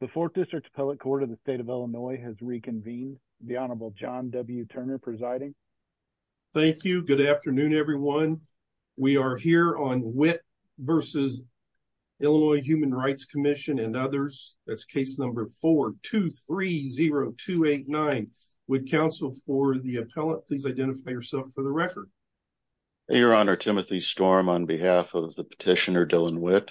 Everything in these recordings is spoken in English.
The 4th District Appellate Court of the State of Illinois has reconvened. The Honorable John W. Turner presiding. Thank you. Good afternoon, everyone. We are here on Witt v. Illinois Human Rights Comm'n and others. That's case number 4-230289. Would counsel for the appellant please identify yourself for the record? Your Honor, Timothy Storm on behalf of Petitioner Dylan Witt.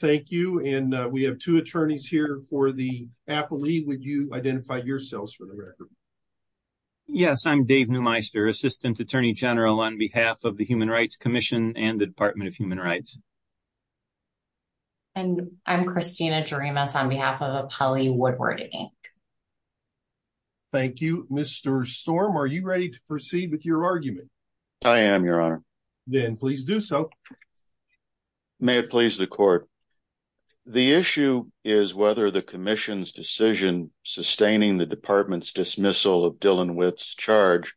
Thank you. And we have two attorneys here for the appellee. Would you identify yourselves for the record? Yes, I'm Dave Neumeister, Assistant Attorney General on behalf of the Human Rights Comm'n and the Department of Human Rights. And I'm Christina Jaramus on behalf of Appellee Woodward, Inc. Thank you. Mr. Storm, are you ready to proceed with your argument? I am, Your Honor. Then please do so. May it please the Court. The issue is whether the Commission's decision sustaining the Department's dismissal of Dylan Witt's charge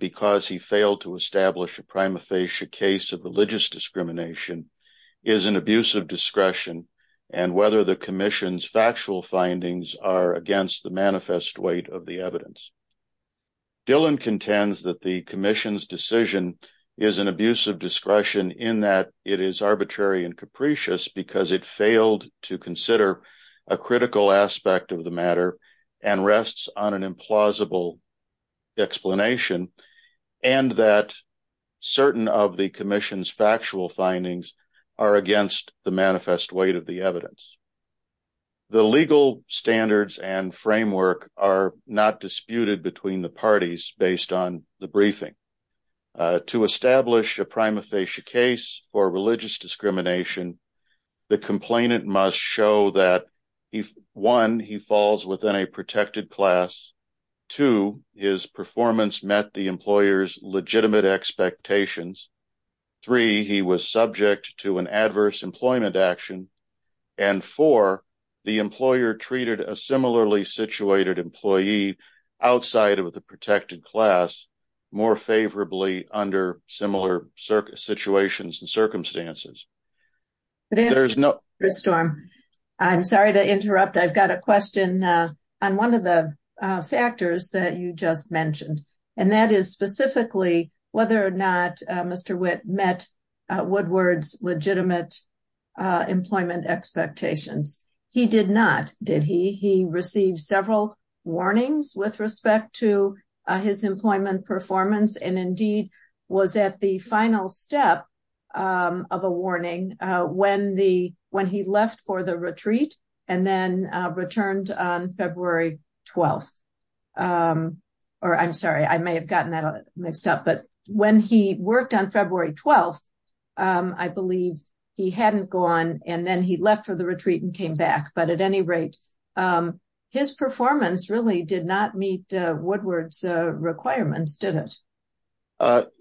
because he failed to establish a prima facie case of religious discrimination is an abuse of discretion and whether the Commission's factual findings are against the manifest weight of the evidence. Dylan contends that the Commission's decision is an abuse of discretion in that it is arbitrary and capricious because it failed to consider a critical aspect of the matter and rests on an implausible explanation and that certain of the Commission's factual findings are against the between the parties based on the briefing. To establish a prima facie case for religious discrimination, the complainant must show that, one, he falls within a protected class, two, his performance met the employer's legitimate expectations, three, he was subject to an adverse of the protected class more favorably under similar situations and circumstances. I'm sorry to interrupt. I've got a question on one of the factors that you just mentioned, and that is specifically whether or not Mr. Witt met Woodward's legitimate employment expectations. He did not, did he? He received several warnings with respect to his employment performance and indeed was at the final step of a warning when he left for the retreat and then returned on February 12th. I'm sorry, I may have gotten that mixed up, but when he worked on February 12th, I believe he hadn't gone and then he left for the retreat and came back, but at any rate, his performance really did not meet Woodward's requirements, did it?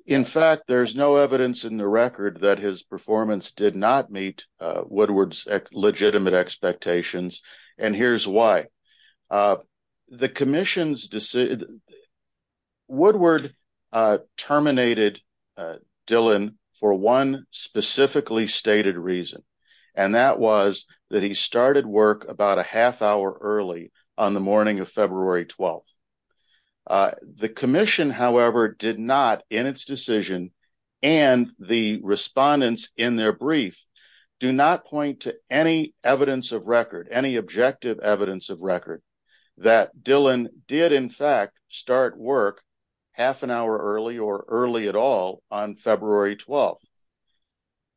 In fact, there's no evidence in the record that his performance did not meet Woodward's legitimate expectations, and here's why. The commission's decision, Woodward terminated Dylan for one specifically stated reason, and that was that he started work about a half hour early on the morning of February 12th. The commission, however, did not in its decision and the respondents in their brief do not point to any evidence of record, any objective evidence of record that Dylan did, in fact, start work half an hour early or early at all on February 12th.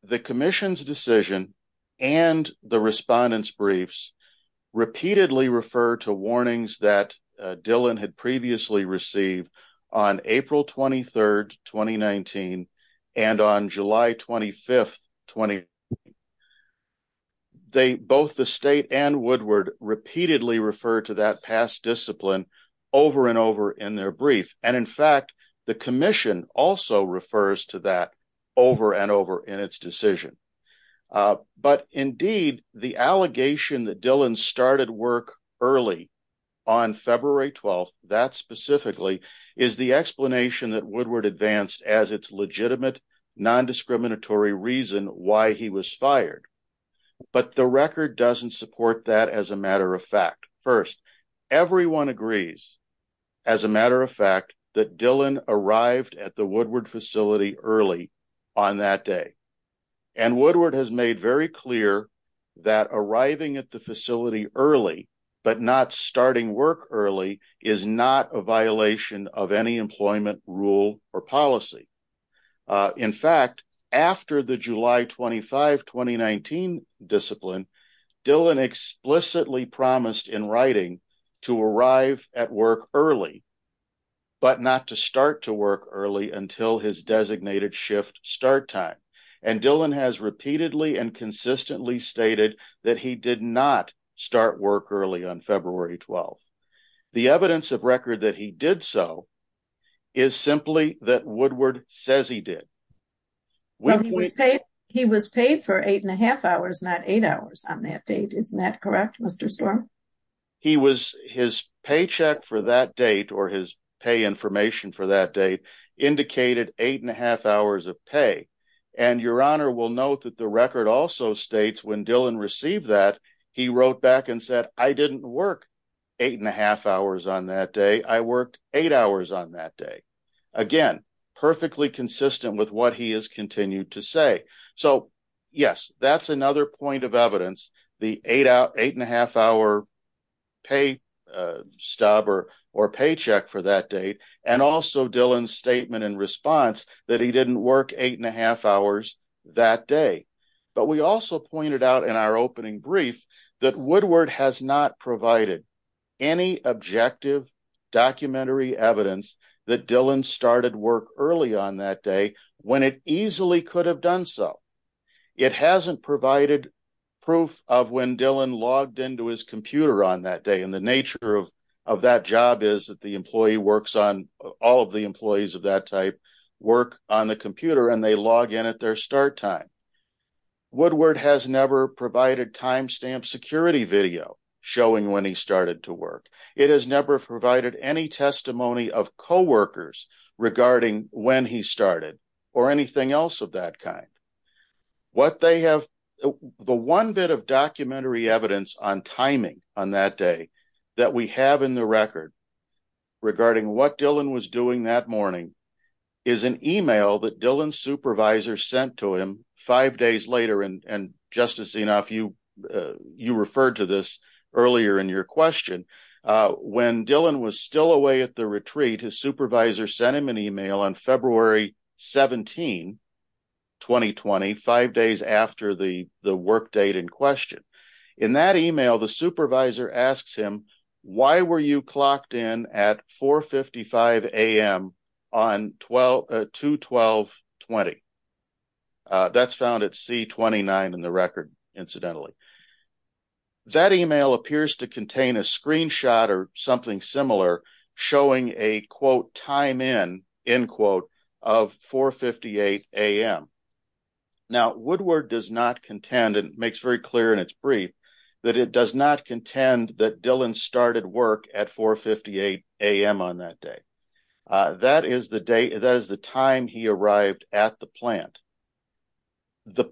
The commission's decision and the respondents briefs repeatedly refer to warnings that Dylan had previously received on April 23rd, 2019 and on July 25th, 2020. Both the state and Woodward repeatedly refer to that past discipline over and over in their brief, and in fact, the commission also refers to that over and over in its decision, but indeed, the allegation that Dylan started work early on February 12th, that specifically is the explanation that Woodward advanced as its legitimate non-discriminatory reason why he was fired, but the record doesn't support that as a matter of fact. First, everyone agrees, as a matter of fact, that Dylan arrived at the Woodward facility early on that day, and Woodward has made very clear that arriving at the facility early, but not starting work early, is not a violation of any employment rule or policy. In fact, after the July 25, 2019 discipline, Dylan explicitly promised in writing to arrive at work early, but not to start to work early until his designated shift start time, and Dylan has February 12th. The evidence of record that he did so is simply that Woodward says he did. He was paid for eight and a half hours, not eight hours on that date, isn't that correct, Mr. Storm? He was, his paycheck for that date, or his pay information for that date, indicated eight and a half hours of pay, and your honor will note that the record also states when Dylan received that, he wrote back and said, I didn't work eight and a half hours on that day, I worked eight hours on that day. Again, perfectly consistent with what he has continued to say. So yes, that's another point of evidence, the eight and a half hour pay stub or paycheck for that date, and also Dylan's statement in response that he didn't work eight and a half hours that day, but we also pointed out in our opening brief that Woodward has not provided any objective documentary evidence that Dylan started work early on that day when it easily could have done so. It hasn't provided proof of when Dylan logged into his computer on that day, and the nature of that job is that the employee works on, all of the employees of that type work on the computer, and they log in at their start time. Woodward has never provided timestamp security video showing when he started to work. It has never provided any testimony of co-workers regarding when he started, or anything else of that kind. What they have, the one bit of documentary evidence on timing on that day that we have in the record regarding what Dylan was doing that morning, is an email that Dylan's supervisor sent to him five days later, and Justice Zinoff, you referred to this earlier in your question. When Dylan was still away at the retreat, his supervisor sent him an email on February 17, 2020, five days after the work date in question. In that email, the supervisor asks him, why were you clocked in at 4 55 a.m on 2 12 20? That's found at C29 in the record, incidentally. That email appears to contain a screenshot or something similar showing a quote time in, end quote, of 4 58 a.m. Now, Woodward does not contend, and makes very clear in its brief, that it does not contend that Dylan started work at 4 58 a.m on that day. That is the day, that is the time he arrived at the plant.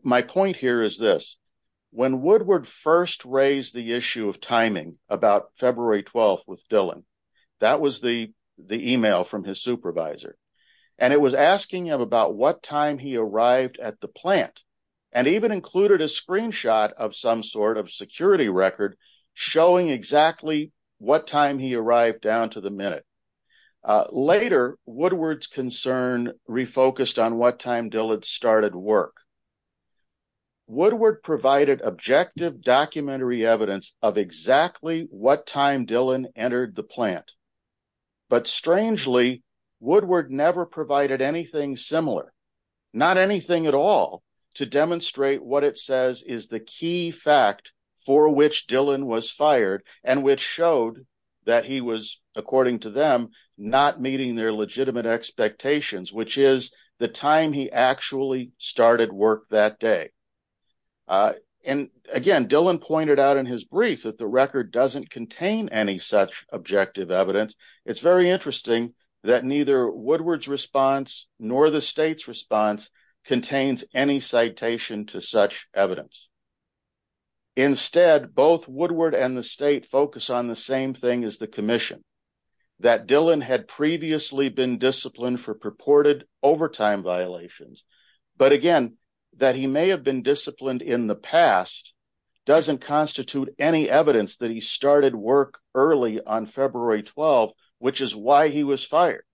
My point here is this, when Woodward first raised the issue of timing about February 12 with Dylan, that was the email from his supervisor, and it was asking him about what time he arrived at the plant, and even included a screenshot of some sort of security record showing exactly what time he arrived down to the minute. Later, Woodward's concern refocused on what time Dylan started work. Woodward provided objective documentary evidence of exactly what time Dylan entered the plant, but strangely, Woodward never provided anything similar, not anything at all, to demonstrate what it says is the key fact for which Dylan was fired, and which showed that he was, according to them, not meeting their legitimate expectations, which is the time he actually started work that day. Again, Dylan pointed out in his brief that the record doesn't contain any such objective evidence. It's very interesting that neither Woodward's response, nor the state's response, contains any citation to such evidence. Instead, both Woodward and the state focus on the same thing as the commission, that Dylan had previously been disciplined for purported overtime violations, but again, that he may have been disciplined in the past doesn't constitute any evidence that he started work early on February 12, which is why he was fired,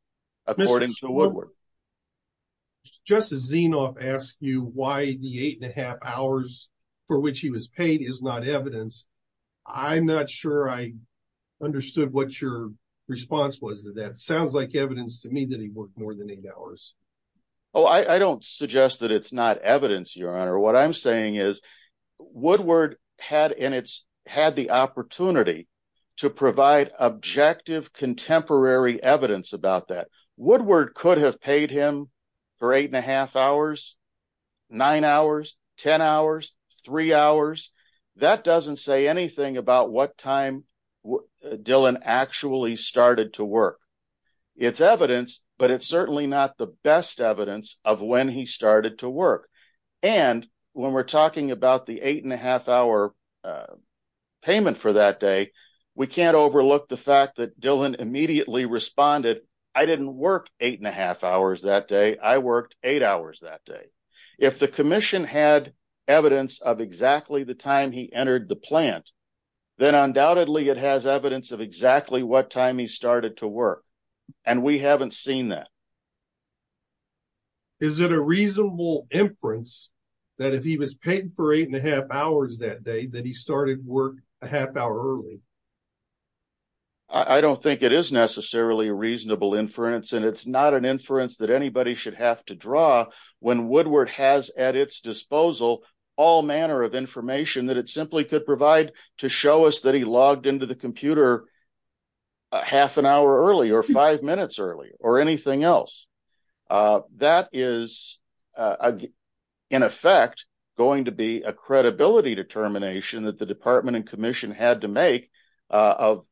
according to Woodward. Justice Zinov asked you why the eight and a half hours for which he was paid is not evidence. I'm not sure I understood what your response was to that. Sounds like evidence to me that he worked more than eight hours. Oh, I don't suggest that it's not evidence, Your Honor. What I'm saying is Woodward had the opportunity to provide objective, contemporary evidence about that. Woodward could have paid him for eight and a half hours, nine hours, ten hours, three hours. That doesn't say anything about what time Dylan actually started to work. It's evidence, but it's certainly not the best evidence of when he started to work. When we're talking about the eight and a half hour payment for that day, we can't overlook the fact that Dylan immediately responded. I didn't work eight and a half hours that day. I worked eight hours that day. If the commission had evidence of exactly the time he entered the plant, then undoubtedly it has evidence of exactly what time he started to work, and we haven't seen that. Is it a reasonable inference that if he was paid for eight and a half hours early? I don't think it is necessarily a reasonable inference, and it's not an inference that anybody should have to draw when Woodward has at its disposal all manner of information that it simply could provide to show us that he logged into the computer half an hour early or five minutes early or anything else. That is, in effect, going to be a credibility determination that the department and commission had to make of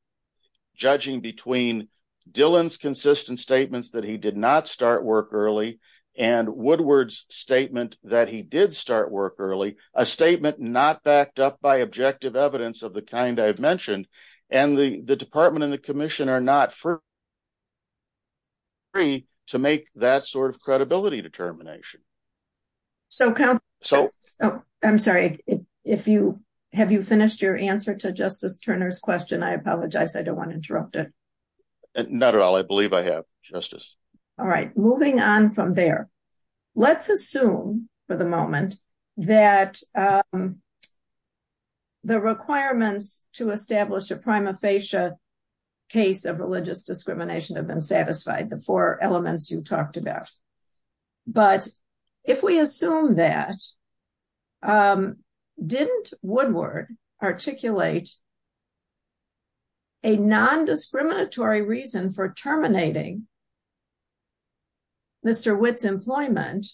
judging between Dylan's consistent statements that he did not start work early and Woodward's statement that he did start work early, a statement not backed up by objective evidence of the kind I've mentioned, and the department and the commission are not free to make that sort of credibility determination. I'm sorry. Have you finished your answer to Justice Turner's question? I apologize. I don't want to interrupt it. Not at all. I believe I have, Justice. All right. Moving on from there, let's assume for the moment that the requirements to establish a prima facie case of religious discrimination have been articulated, a non-discriminatory reason for terminating Mr. Witt's employment,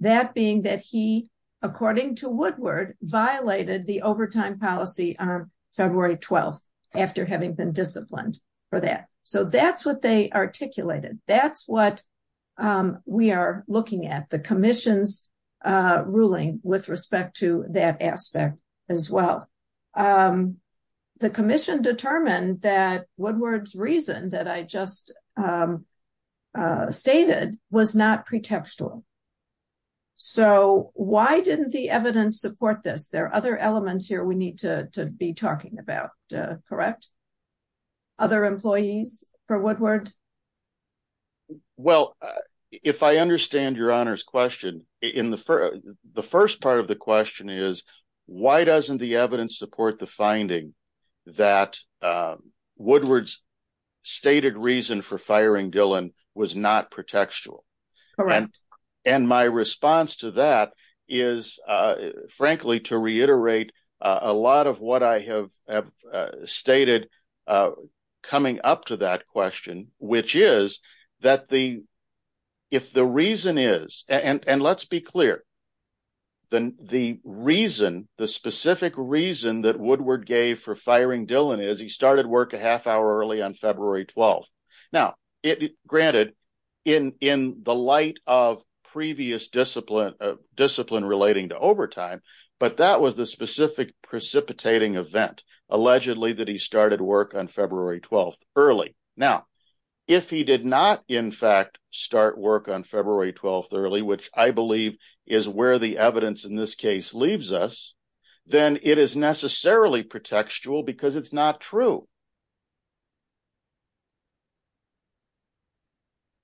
that being that he, according to Woodward, violated the overtime policy on February 12th after having been disciplined for that. So that's what they as well. The commission determined that Woodward's reason that I just stated was not pretextual. So why didn't the evidence support this? There are other elements here we need to be talking about, correct? Other employees for Woodward? Well, if I understand Your Honor's question, the first part of the question is, why doesn't the evidence support the finding that Woodward's stated reason for firing Dillon was not pretextual? Correct. And my response to that is, frankly, to reiterate a lot of what I have stated coming up to that question, which is that if the reason is, and let's be clear, then the reason, the specific reason that Woodward gave for firing Dillon is he started work a half hour early on February 12th. Now, granted, in the light of previous discipline relating to overtime, but that was the specific precipitating event, allegedly that he started work on February 12th early. Now, if he did not, in fact, start work on February 12th early, which I believe is where the evidence in this case leaves us, then it is necessarily pretextual because it's not true.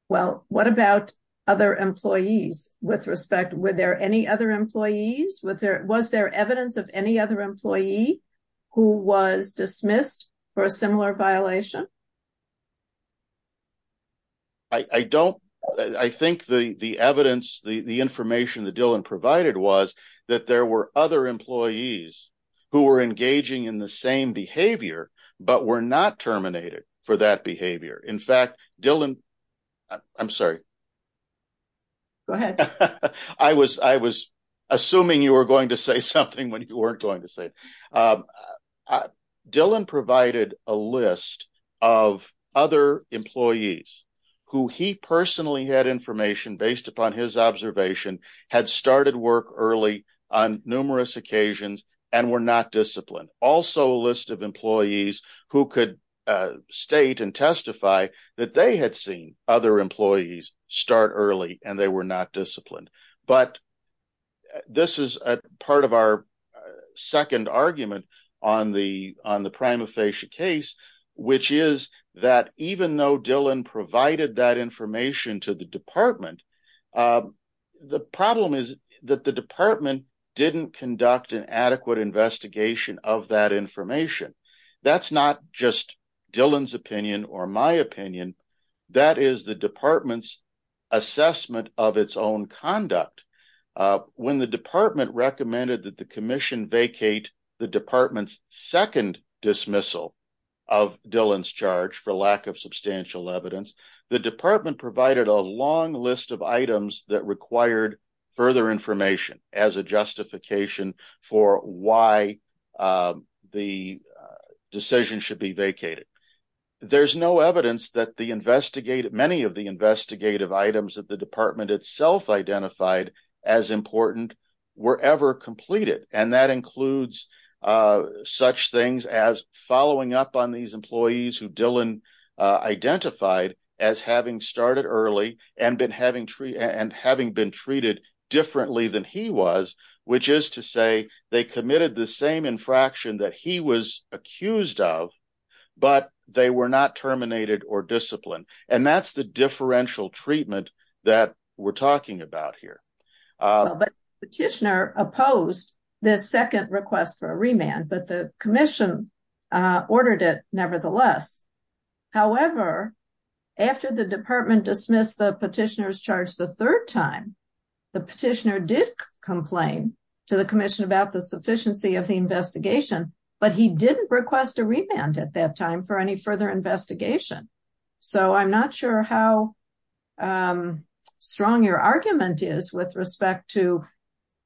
Well, what about other employees? With respect, were there any other employees? Was there evidence of any other employee who was dismissed for a similar violation? I don't, I think the evidence, the information that Dillon provided was that there were other employees who were engaging in the same behavior, but were not terminated for that behavior. In fact, Dillon, I'm sorry. Go ahead. I was assuming you were going to say something when you weren't going to say it. Dillon provided a list of other employees who he personally had information based upon his observation, had started work early on who could state and testify that they had seen other employees start early and they were not disciplined. But this is part of our second argument on the prima facie case, which is that even though Dillon provided that information to the department, the problem is that the department didn't conduct an adequate investigation of that information. That's not just Dillon's opinion or my opinion. That is the department's assessment of its own conduct. When the department recommended that the commission vacate the department's second dismissal of Dillon's charge for lack of substantial evidence, the department provided a long list of items that required further information as a justification for why the decision should be vacated. There's no evidence that many of the investigative items that the department itself identified as important were ever completed. And that includes such things as following up on these employees who Dillon identified as having started early and having been treated differently than he was, which is to say they committed the same infraction that he was accused of, but they were not terminated or disciplined. And that's the differential treatment that we're talking about here. Petitioner opposed this second request for a remand, but the commission ordered it nevertheless. However, after the department dismissed the petitioner's charge the third time, the petitioner did complain to the commission about the sufficiency of the investigation, but he didn't request a remand at that time for any further investigation. So I'm not sure how strong your argument is with respect to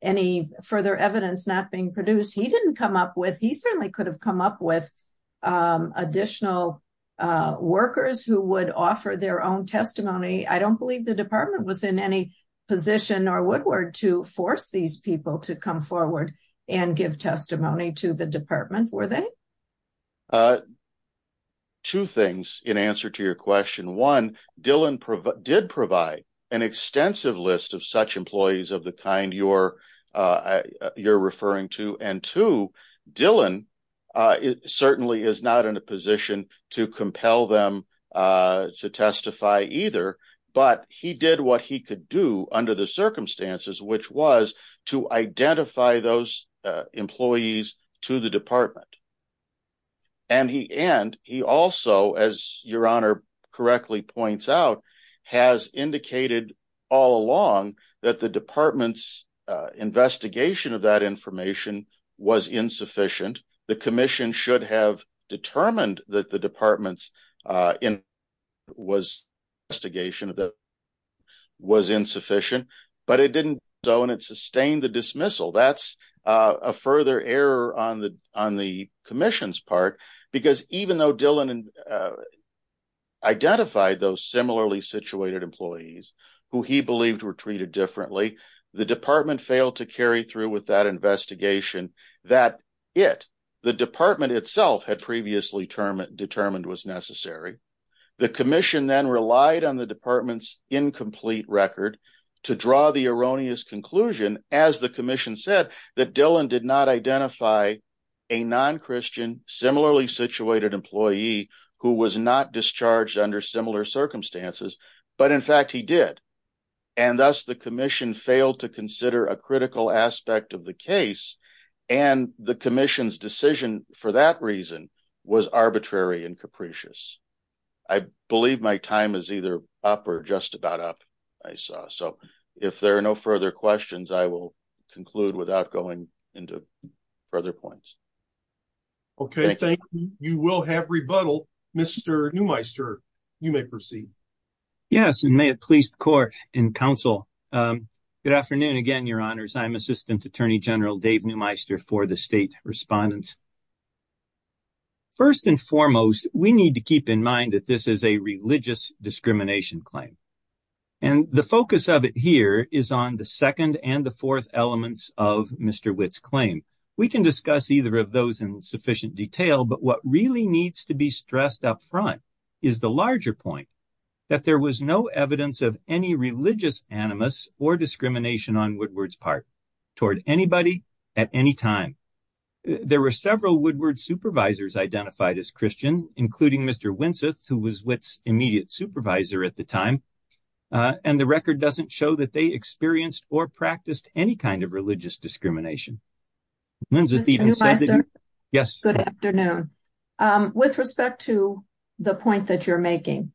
any further evidence not being produced. He certainly could have come up with additional workers who would offer their own testimony. I don't believe the department was in any position or Woodward to force these people to come forward and give testimony to the department, were they? Two things in answer to your question. One, Dillon did provide an extensive list of such employees of the kind you're referring to, and two, Dillon certainly is not in a position to compel them to testify either, but he did what he could do under the circumstances, which was to identify those employees to the department. And he also, as your honor correctly points out, has indicated all along that the department's investigation of that information was insufficient. The commission should have determined that the department's investigation was insufficient, but it didn't do so, and it sustained the dismissal. That's a further error on the commission's part, because even though Dillon identified those investigations, the department itself had previously determined was necessary. The commission then relied on the department's incomplete record to draw the erroneous conclusion, as the commission said, that Dillon did not identify a non-Christian, similarly situated employee who was not discharged under similar circumstances, but in fact he did. And thus, the commission failed to consider a critical aspect of the case, and the commission's decision for that reason was arbitrary and capricious. I believe my time is either up or just about up, I saw, so if there are no further questions, I will conclude without going into further points. Okay, thank you. You will have rebuttal. Mr. Neumeister, you may proceed. Yes, and may it please the court and counsel. Good afternoon again, your honors. I'm Assistant Attorney General Dave Neumeister for the State Respondents. First and foremost, we need to keep in mind that this is a religious discrimination claim, and the focus of it here is on the second and the fourth elements of Mr. Witt's claim. We can discuss either of those in sufficient detail, but what really needs to be stressed up front is the larger point that there was no evidence of any religious animus or discrimination on Woodward's part toward anybody at any time. There were several Woodward supervisors identified as Christian, including Mr. Winseth, who was Witt's immediate supervisor at the time, and the record doesn't show that they experienced or practiced any kind of religious discrimination. Ms. Neumeister, good afternoon. With respect to the point that you're making,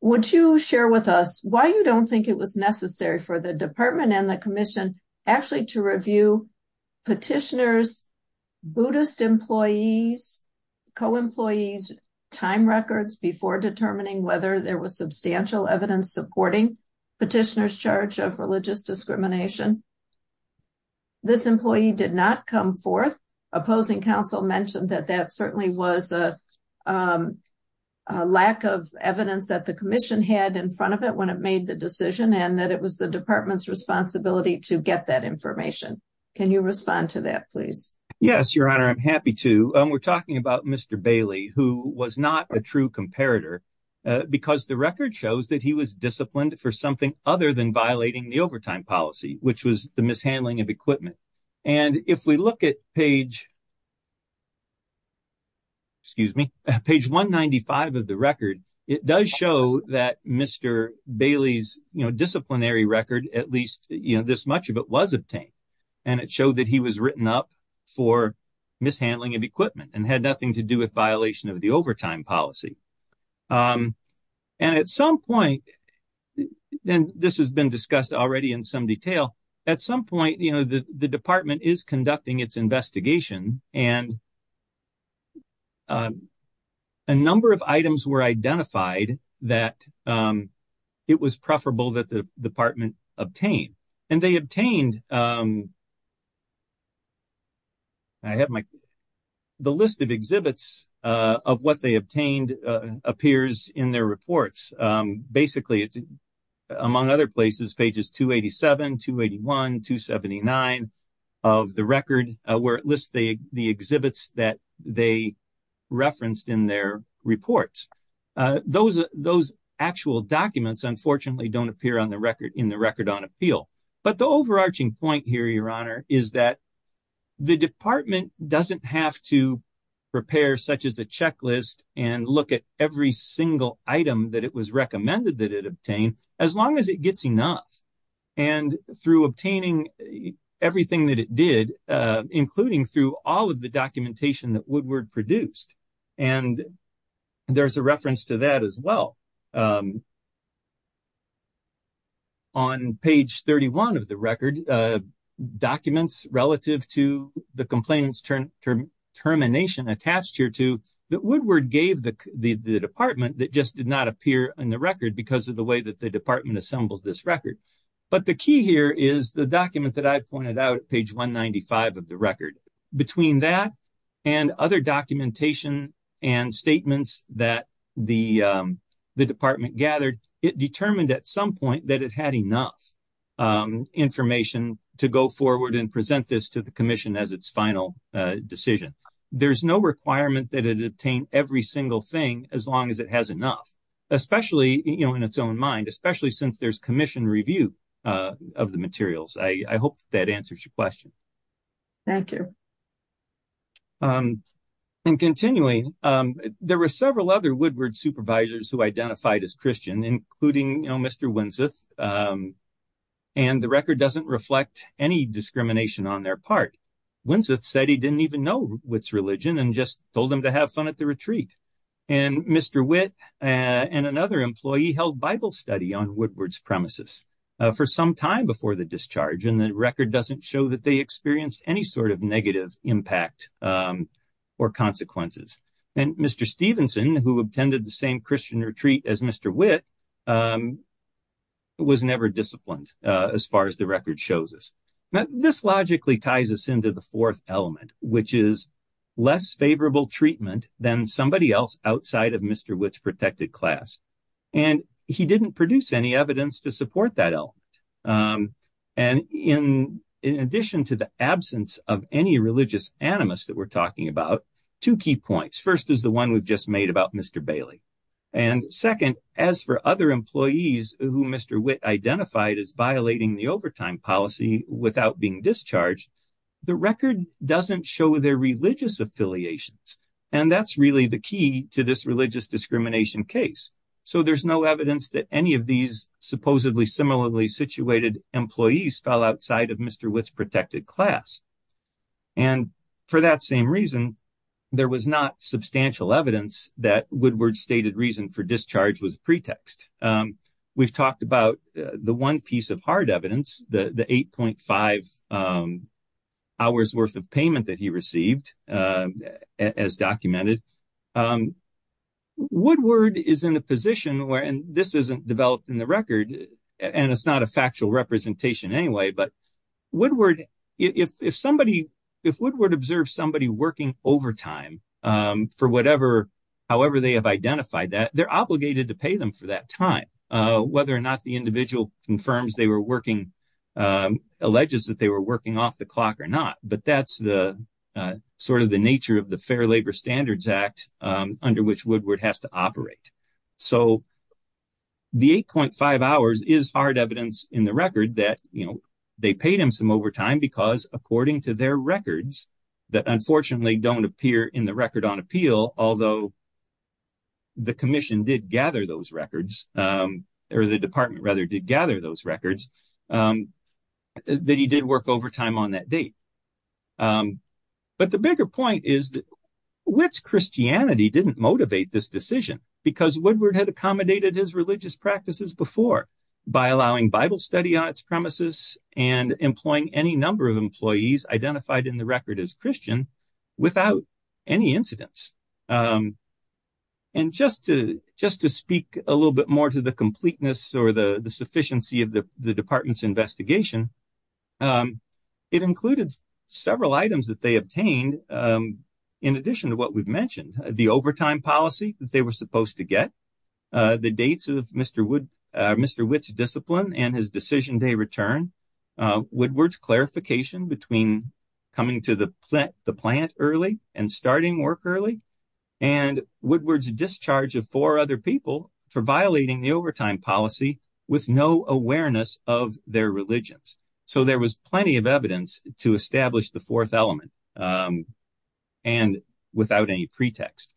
would you share with us why you don't think it was necessary for the department and the commission actually to review petitioners, Buddhist employees, co-employees' time records before determining whether there was substantial evidence supporting petitioners' charge of discrimination? I'm happy to. We're talking about Mr. Bailey, who was not a true comparator because the record shows that he was disciplined for something other than violating the overtime policy, which was the mishandling of equipment. If we look at page 195 of the record, it does show that Mr. Bailey's disciplinary record, at least this much of it, was obtained, and it showed that he was written up for mishandling of equipment and had nothing to do with violation of the overtime policy. This has been discussed already in some detail. At some point, the department is conducting its investigation, and a number of items were identified that it was preferable that the obtained appears in their reports. Basically, it's among other places, pages 287, 281, 279 of the record, where it lists the exhibits that they referenced in their reports. Those actual documents, unfortunately, don't appear in the record on appeal. But the overarching point here, is that the department doesn't have to prepare such as a checklist and look at every single item that it was recommended that it obtain, as long as it gets enough. Through obtaining everything that it did, including through all of the documentation that Woodward produced, and there's a reference to that as well. On page 31 of the record, documents relative to the complainant's termination attached here to that Woodward gave the department that just did not appear in the record because of the way that the department assembles this record. But the key here is the document that I pointed out at page 195 of the record. Between that and other documentation and statements that the department gathered, it determined at some point that it had enough information to go forward and present this to the commission as its final decision. There's no requirement that it obtain every single thing, as long as it has enough, especially in its own mind, especially since there's commission review of the materials. I hope that answers your question. Thank you. And continuing, there were several other Woodward supervisors who identified as Christian, including Mr. Winseth, and the record doesn't reflect any discrimination on their part. Winseth said he didn't even know Witt's religion and just told him to have fun at the retreat. And Mr. Witt and another employee held Bible study on Woodward's premises for some time before the discharge, and the record doesn't show that they experienced any sort of negative impact or consequences. And Mr. Stevenson, who attended the same Christian retreat as Mr. Witt, was never disciplined, as far as the record shows us. This logically ties us into the fourth element, which is less favorable treatment than somebody else outside of Mr. Witt's protected class. And he didn't produce any evidence to support that element. And in addition to the absence of any religious animus that we're talking about, two key points. First is the one we've just made about Mr. Bailey. And second, as for other employees who Mr. Witt identified as violating the overtime policy without being discharged, the record doesn't show their religious affiliations. And that's really the key to this religious discrimination case. So there's no evidence that any of these supposedly similarly situated employees fell outside of Mr. Witt's protected class. And for that same reason, there was not substantial evidence that Woodward's stated reason for discharge was a pretext. We've talked about the one piece of hard evidence, the 8.5 hours worth of payment that he received as documented. Woodward is in a position where, and this isn't developed in the record, and it's not a factual representation anyway, but Woodward, if somebody, if Woodward observed somebody working overtime for whatever, however they have identified that, they're obligated to pay them for that time. Whether or not the individual confirms they were working, alleges that they were working off the clock or not. But that's the sort of the nature of the Fair Labor Standards Act under which Woodward has to operate. So the 8.5 hours is hard evidence in the record that, you know, they paid him some overtime because according to their records, that unfortunately don't appear in the record on appeal, although the commission did gather those records, or the department rather did gather those records, that he did work overtime on that date. But the bigger point is that Witt's Christianity didn't motivate this decision because Woodward had accommodated his religious practices before by allowing Bible study on its premises and employing any number of employees identified in the record as Christian without any incidents. And just to speak a little bit more to the completeness or the sufficiency of the department's investigation, it included several items that they obtained in addition to what we've mentioned. The overtime policy that they were supposed to get, the dates of Mr. Witt's discipline and his decision day return, Woodward's clarification between coming to the plant early and starting work early, and Woodward's discharge of four other people for violating the overtime policy with no awareness of their religions. So there was plenty of evidence to establish the fourth element and without any pretext.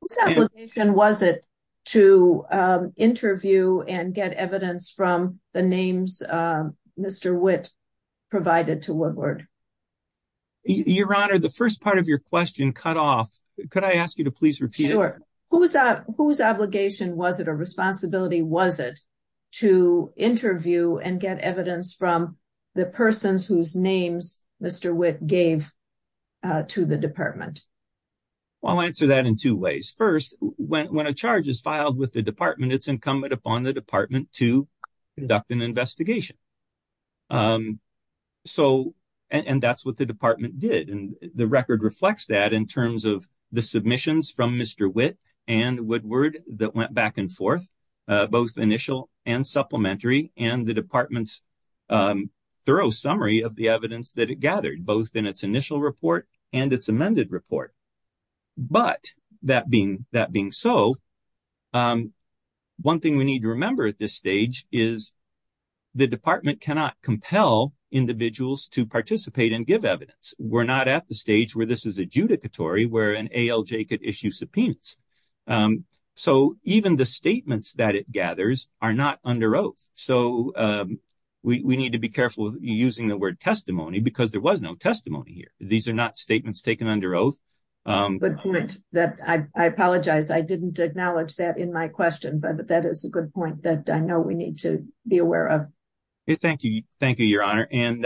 Whose application was it to interview and get evidence from the names Mr. Witt provided to Woodward? Your Honor, the first part of your question cut off. Could I ask you to please repeat it? Sure. Whose obligation was it or responsibility was it to interview and get evidence from the persons whose names Mr. Witt gave to the department? I'll answer that in two ways. First, when a charge is filed with the department, it's incumbent upon the department to conduct an investigation. And that's what the department did. The record reflects that in terms of the submissions from Mr. Witt and Woodward that went back and forth, both initial and supplementary, and the department's thorough summary of the evidence that it gathered, both in its initial report and its amended report. But that being so, one thing we need to remember at this stage is the department cannot compel individuals to participate and give evidence. We're not at the stage where this is adjudicatory, where an ALJ could issue subpoenas. So even the statements that it gathers are not under oath. So we need to be careful using the word testimony because there are not statements taken under oath. Good point. I apologize. I didn't acknowledge that in my question, but that is a good point that I know we need to be aware of. Thank you. Thank you, Your Honor. And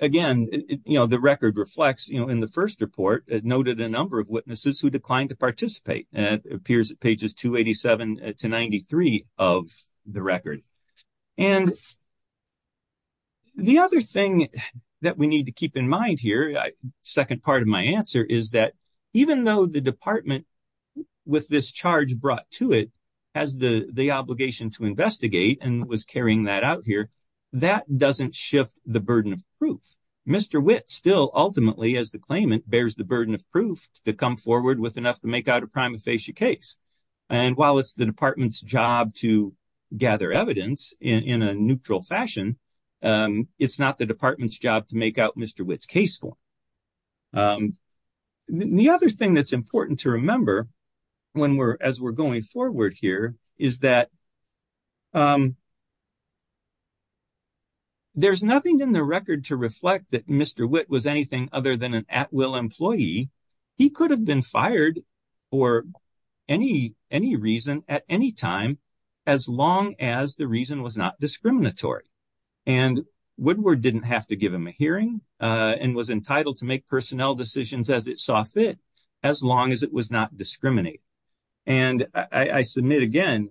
again, you know, the record reflects, you know, in the first report, it noted a number of witnesses who declined to participate. It appears at pages 287 to 93 of the record. And the other thing that we need to keep in mind here, second part of my answer, is that even though the department, with this charge brought to it, has the obligation to investigate and was carrying that out here, that doesn't shift the burden of proof. Mr. Witt still ultimately, as the claimant, bears the burden of proof to come forward with enough to make out a prima facie case. And while it's the department's job to gather evidence in a neutral fashion, it's not the department's job to make out Mr. Witt's case form. The other thing that's important to remember as we're going forward here is that there's nothing in the record to reflect that Mr. Witt was anything other than an at-will employee. He could have been fired for any reason at any time, as long as the reason was not discriminatory. And Woodward didn't have to give him a hearing and was entitled to make personnel decisions as it saw fit, as long as it was not discriminatory. And I submit again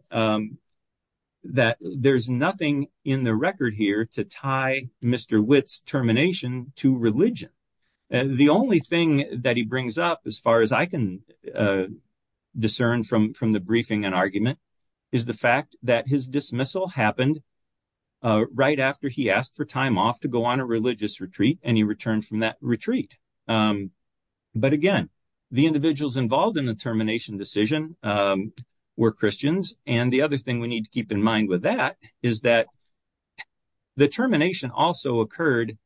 that there's nothing in the record here to tie Mr. Witt's termination to religion. The only thing that he brings up, as far as I can discern from the briefing and argument, is the fact that his dismissal happened right after he asked for time off to go on a religious retreat, and he returned from that retreat. But again, the individuals involved in the termination decision were Christians. And the other thing we need to keep in mind with that is that the termination also occurred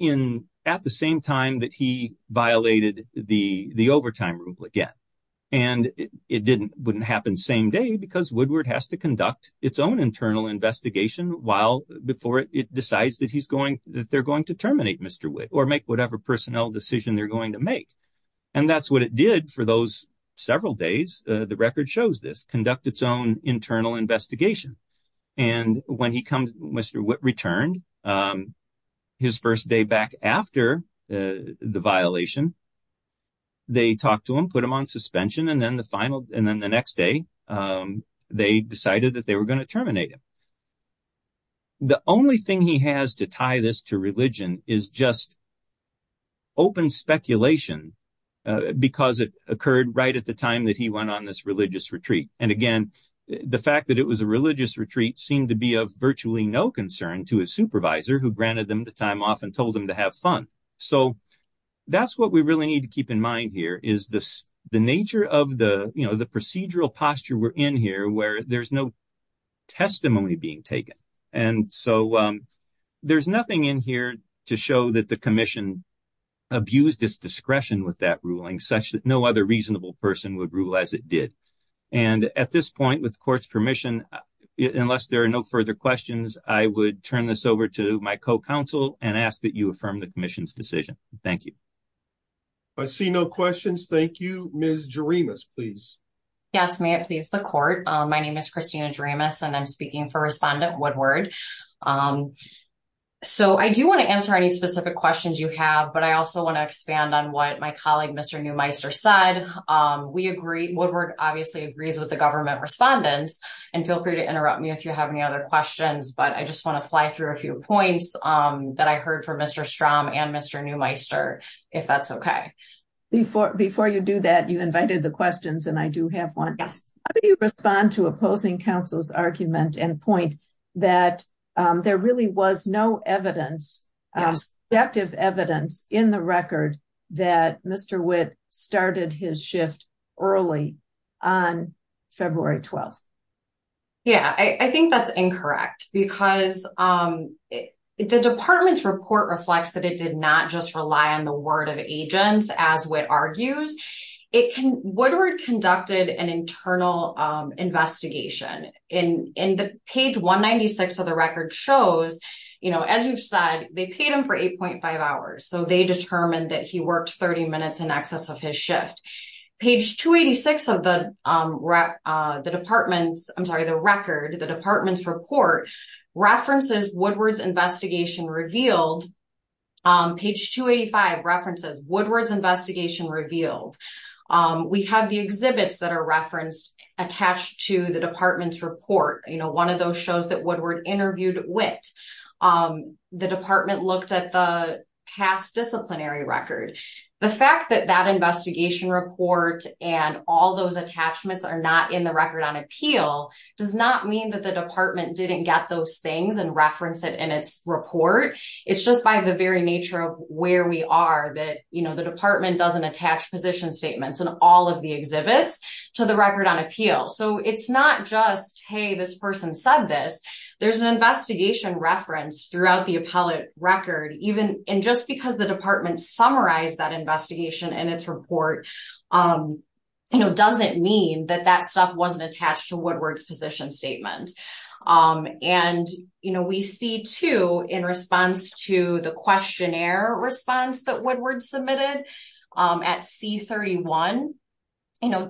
at the same time that he violated the overtime rule again. And it wouldn't happen same day because Woodward has to conduct its own internal investigation before it decides that they're going to terminate Mr. Witt or make whatever personnel decision they're going to make. And that's what it did for those several days. The and when he comes Mr. Witt returned his first day back after the violation, they talked to him, put him on suspension, and then the final and then the next day they decided that they were going to terminate him. The only thing he has to tie this to religion is just open speculation because it occurred right at the time that he went on this religious retreat. And again, the fact that it was a religious retreat seemed to be of virtually no concern to his supervisor who granted them the time off and told them to have fun. So that's what we really need to keep in mind here is this the nature of the, you know, the procedural posture we're in here where there's no testimony being taken. And so there's nothing in here to show that the commission abused its discretion with that ruling such that no other reasonable person would rule as it did. And at this point, with court's permission, unless there are no further questions, I would turn this over to my co-counsel and ask that you affirm the commission's decision. Thank you. I see no questions. Thank you, Ms. Jaramus, please. Yes, may it please the court. My name is Christina Jaramus and I'm speaking for respondent Woodward. So I do want to answer any specific questions you have. But I also want to expand on what my colleague Mr. Neumeister said. We agree, Woodward obviously agrees with the government respondents. And feel free to interrupt me if you have any other questions. But I just want to fly through a few points that I heard from Mr. Strahm and Mr. Neumeister, if that's okay. Before you do that, you invited the questions and I do have one. How do you respond to opposing counsel's argument and point that there really was no evidence, subjective evidence, in the record that Mr. Witt started his shift early on February 12th? Yeah, I think that's incorrect because the department's report reflects that it did not just rely on the word of agents, as Witt argues. Woodward conducted an internal investigation. And page 196 of the record shows, as you've said, they paid him for 8.5 hours. So they determined that he worked 30 minutes in excess of his shift. Page 286 of the department's, I'm sorry, the record, the department's report, references Woodward's investigation revealed. Page 285 references Woodward's investigation revealed. We have the exhibits that are attached to the department's report. One of those shows that Woodward interviewed Witt, the department looked at the past disciplinary record. The fact that that investigation report and all those attachments are not in the record on appeal does not mean that the department didn't get those things and reference it in its report. It's just by the very nature of where we are that the department doesn't attach position statements in all of the exhibits to the record on appeal. So it's not just, hey, this person said this. There's an investigation reference throughout the appellate record. And just because the department summarized that investigation in its report doesn't mean that that stuff wasn't attached to Woodward's position statement. And we see too, in response to the questionnaire response that Woodward submitted at C-31,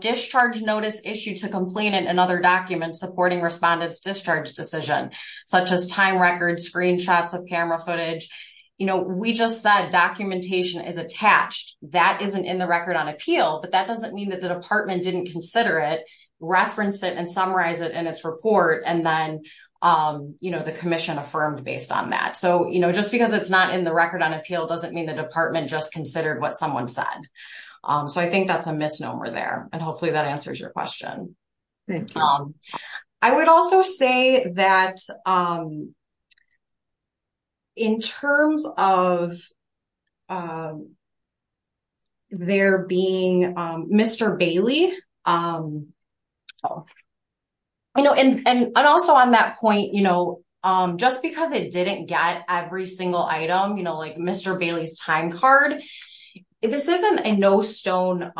discharge notice issued to complainant and other documents supporting respondent's discharge decision, such as time records, screenshots of camera footage. We just said documentation is attached. That isn't in the record on appeal, but that doesn't mean that the department didn't consider it, reference it, and summarize it in its report, and then the commission affirmed based on that. So just because it's not in the record on appeal doesn't mean the department just considered what someone said. So I think that's a misnomer there, and hopefully that answers your question. And also on that point, just because it didn't get every single item, like Mr. Bailey's time card, this isn't a no stone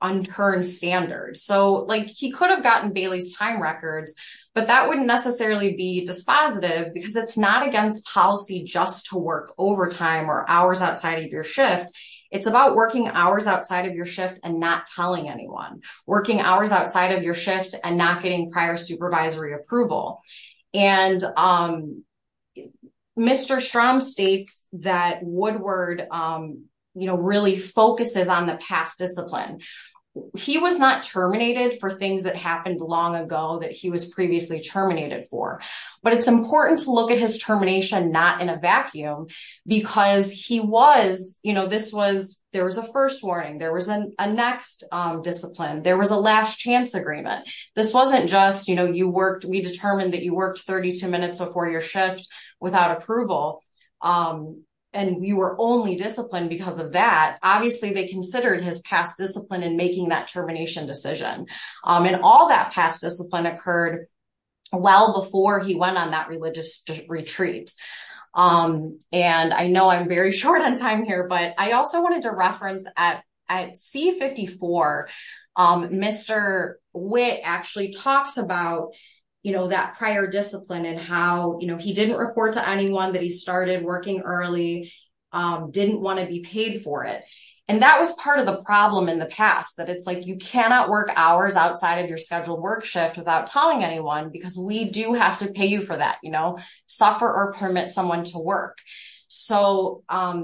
unturned standard. So he could have gotten Bailey's time records, but that wouldn't necessarily be dispositive because it's not against policy just to work overtime or hours outside of your shift. It's about working hours outside of your shift and telling anyone, working hours outside of your shift and not getting prior supervisory approval. And Mr. Strom states that Woodward really focuses on the past discipline. He was not terminated for things that happened long ago that he was previously terminated for, but it's important to look at his termination not in a vacuum because there was a first discipline. There was a last chance agreement. This wasn't just we determined that you worked 32 minutes before your shift without approval, and you were only disciplined because of that. Obviously, they considered his past discipline in making that termination decision, and all that past discipline occurred well before he went on that religious retreat. And I know I'm very short on time here, but I also wanted to reference at C-54, Mr. Witt actually talks about that prior discipline and how he didn't report to anyone that he started working early, didn't want to be paid for it. And that was part of the problem in the past, that it's like you cannot work hours outside of your scheduled work shift without telling anyone because we do have to pay you for that. Suffer or permit someone to work. So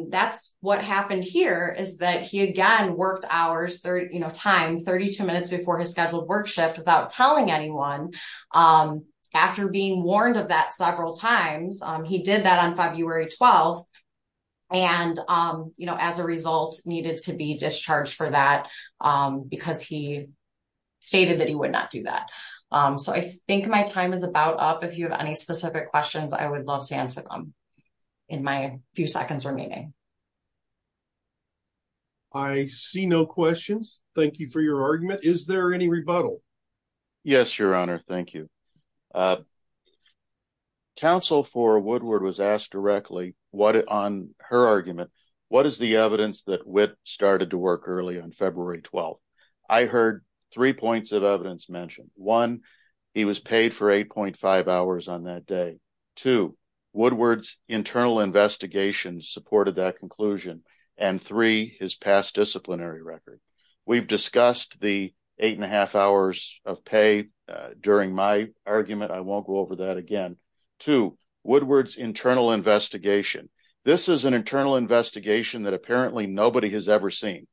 that's what happened here is that he again worked hours times 32 minutes before his scheduled work shift without telling anyone. After being warned of that several times, he did that on February 12th, and as a result needed to be discharged for that because he stated that he would not do that. So I think my time is about up. If you have any specific questions, I would love to answer them in my few seconds remaining. I see no questions. Thank you for your argument. Is there any rebuttal? Yes, Your Honor. Thank you. Counsel for Woodward was asked directly on her argument, what is the evidence that Witt started to work early on February 12th? I heard three points of evidence mentioned. One, he was paid for 8.5 hours on that day. Two, Woodward's internal investigation supported that conclusion. And three, his past disciplinary record. We've discussed the eight and a half hours of pay during my argument. I won't go over that again. Two, Woodward's internal investigation. This is an internal investigation that apparently nobody has ever seen.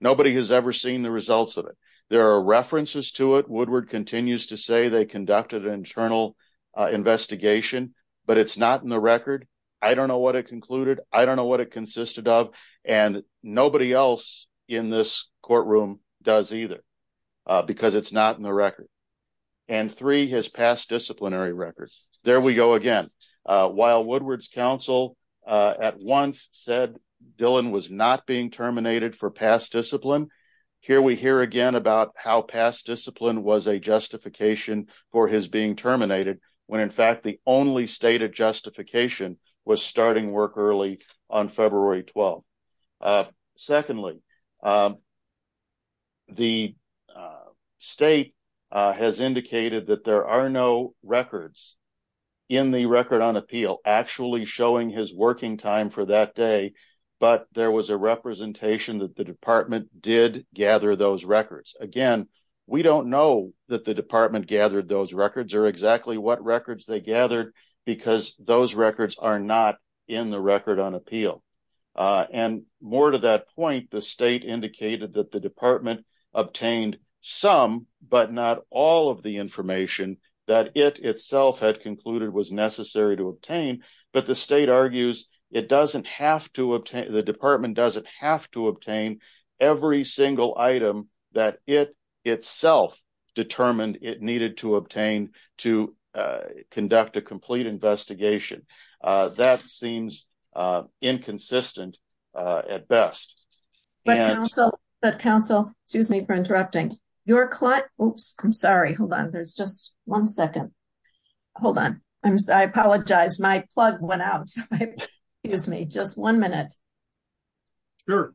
Nobody has ever seen the results of it. There are references to it. Woodward continues to say they conducted an internal investigation, but it's not in the record. I don't know what it concluded. I don't know what it consisted of. And nobody else in this courtroom does either because it's not in the record. And three, his past disciplinary records. There we go again. While Woodward's counsel at once said Dillon was not being terminated for past discipline, here we hear again about how past discipline was a justification for his being terminated, when in fact the only stated justification was starting work early on February 12th. Secondly, the state has indicated that there are no records in the record on appeal actually showing his working time for that day, but there was a representation that the department did gather those records. Again, we don't know that the department gathered those records or exactly what records they gathered because those records are not in the record on appeal. And more to that the state indicated that the department obtained some, but not all of the information that it itself had concluded was necessary to obtain, but the state argues the department doesn't have to obtain every single item that it itself determined it needed to obtain to conduct a complete investigation. That seems inconsistent at best. But counsel, excuse me for interrupting. I'm sorry. Hold on. There's just one second. Hold on. I'm sorry. I apologize. My plug went out. Excuse me. Just one minute. Sure.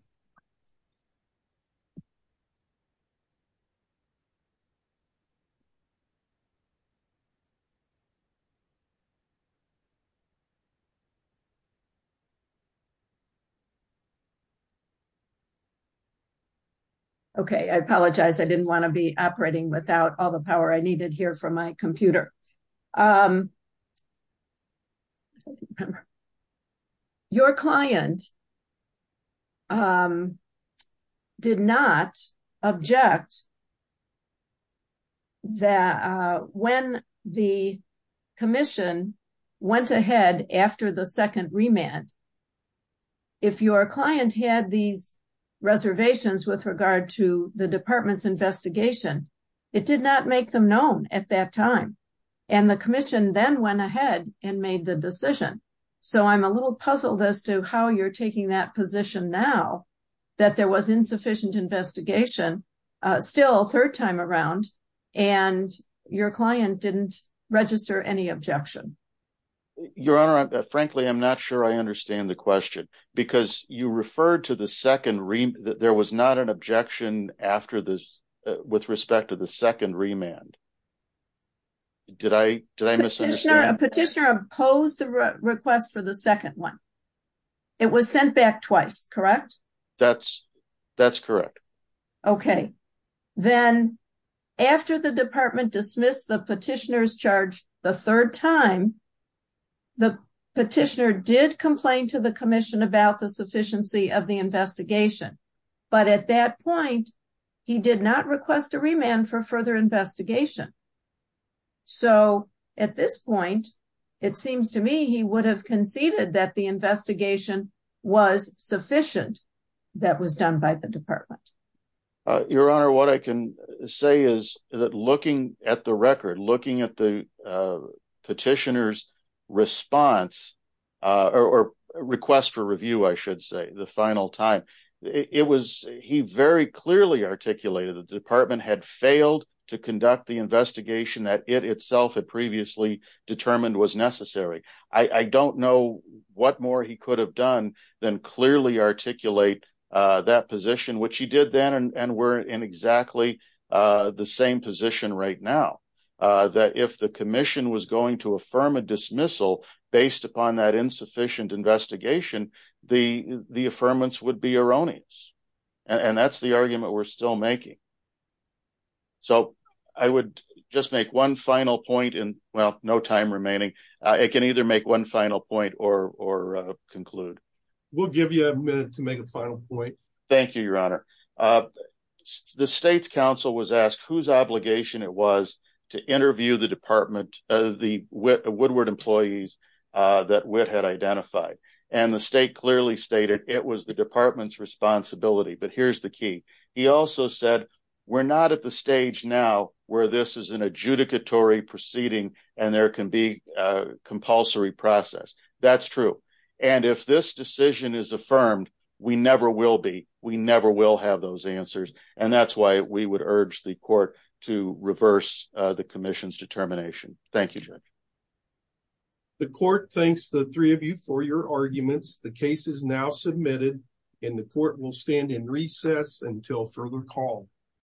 Okay. I apologize. I didn't want to be operating without all the power I needed here from my Your client did not object that when the commission went ahead after the second remand, if your client had these reservations with regard to the department's investigation, it did not make them known at that time. And the commission then went ahead and made the decision. So I'm a little puzzled as to how you're taking that position now that there was insufficient investigation still third time around and your client didn't register any objection. Your honor, frankly, I'm not sure I understand the question because you referred to the second there was not an objection after this with respect to the second remand. Did I did I miss a petitioner opposed the request for the second one? It was sent back twice, correct? That's that's correct. Okay. Then after the department dismissed the petitioner's charge the third time, the petitioner did complain to the commission about the sufficiency of the investigation. But at that point, he did not request a remand for further investigation. So at this point, it seems to me he would have conceded that the investigation was sufficient. That was done by the department. Your honor, what I can say is that looking at the record, looking at the petitioner's response or request for review, I should say the final time it was he very clearly articulated the department had failed to conduct the investigation that it itself had previously determined was necessary. I don't know what more he could have done than clearly articulate that position, which he did then and we're in exactly the same position right now that if the commission was going to affirm a dismissal based upon that insufficient investigation, the the affirmance would be erroneous. And that's the argument we're still making. So I would just make one final point and well, no time remaining. It can either make one final point or or conclude. We'll give you a minute to make a final point. Thank you, your honor. The state's council was asked whose obligation it was to interview the department, the Woodward employees that Witt had identified. And the state clearly stated it was the department's responsibility. But here's the key. He also said we're not at the stage now where this is an adjudicatory proceeding and there can be a compulsory process. That's true. And if this decision is made, we will have those answers. And that's why we would urge the court to reverse the commission's determination. Thank you. The court thanks the three of you for your arguments. The case is now submitted in the court will stand in recess until further call.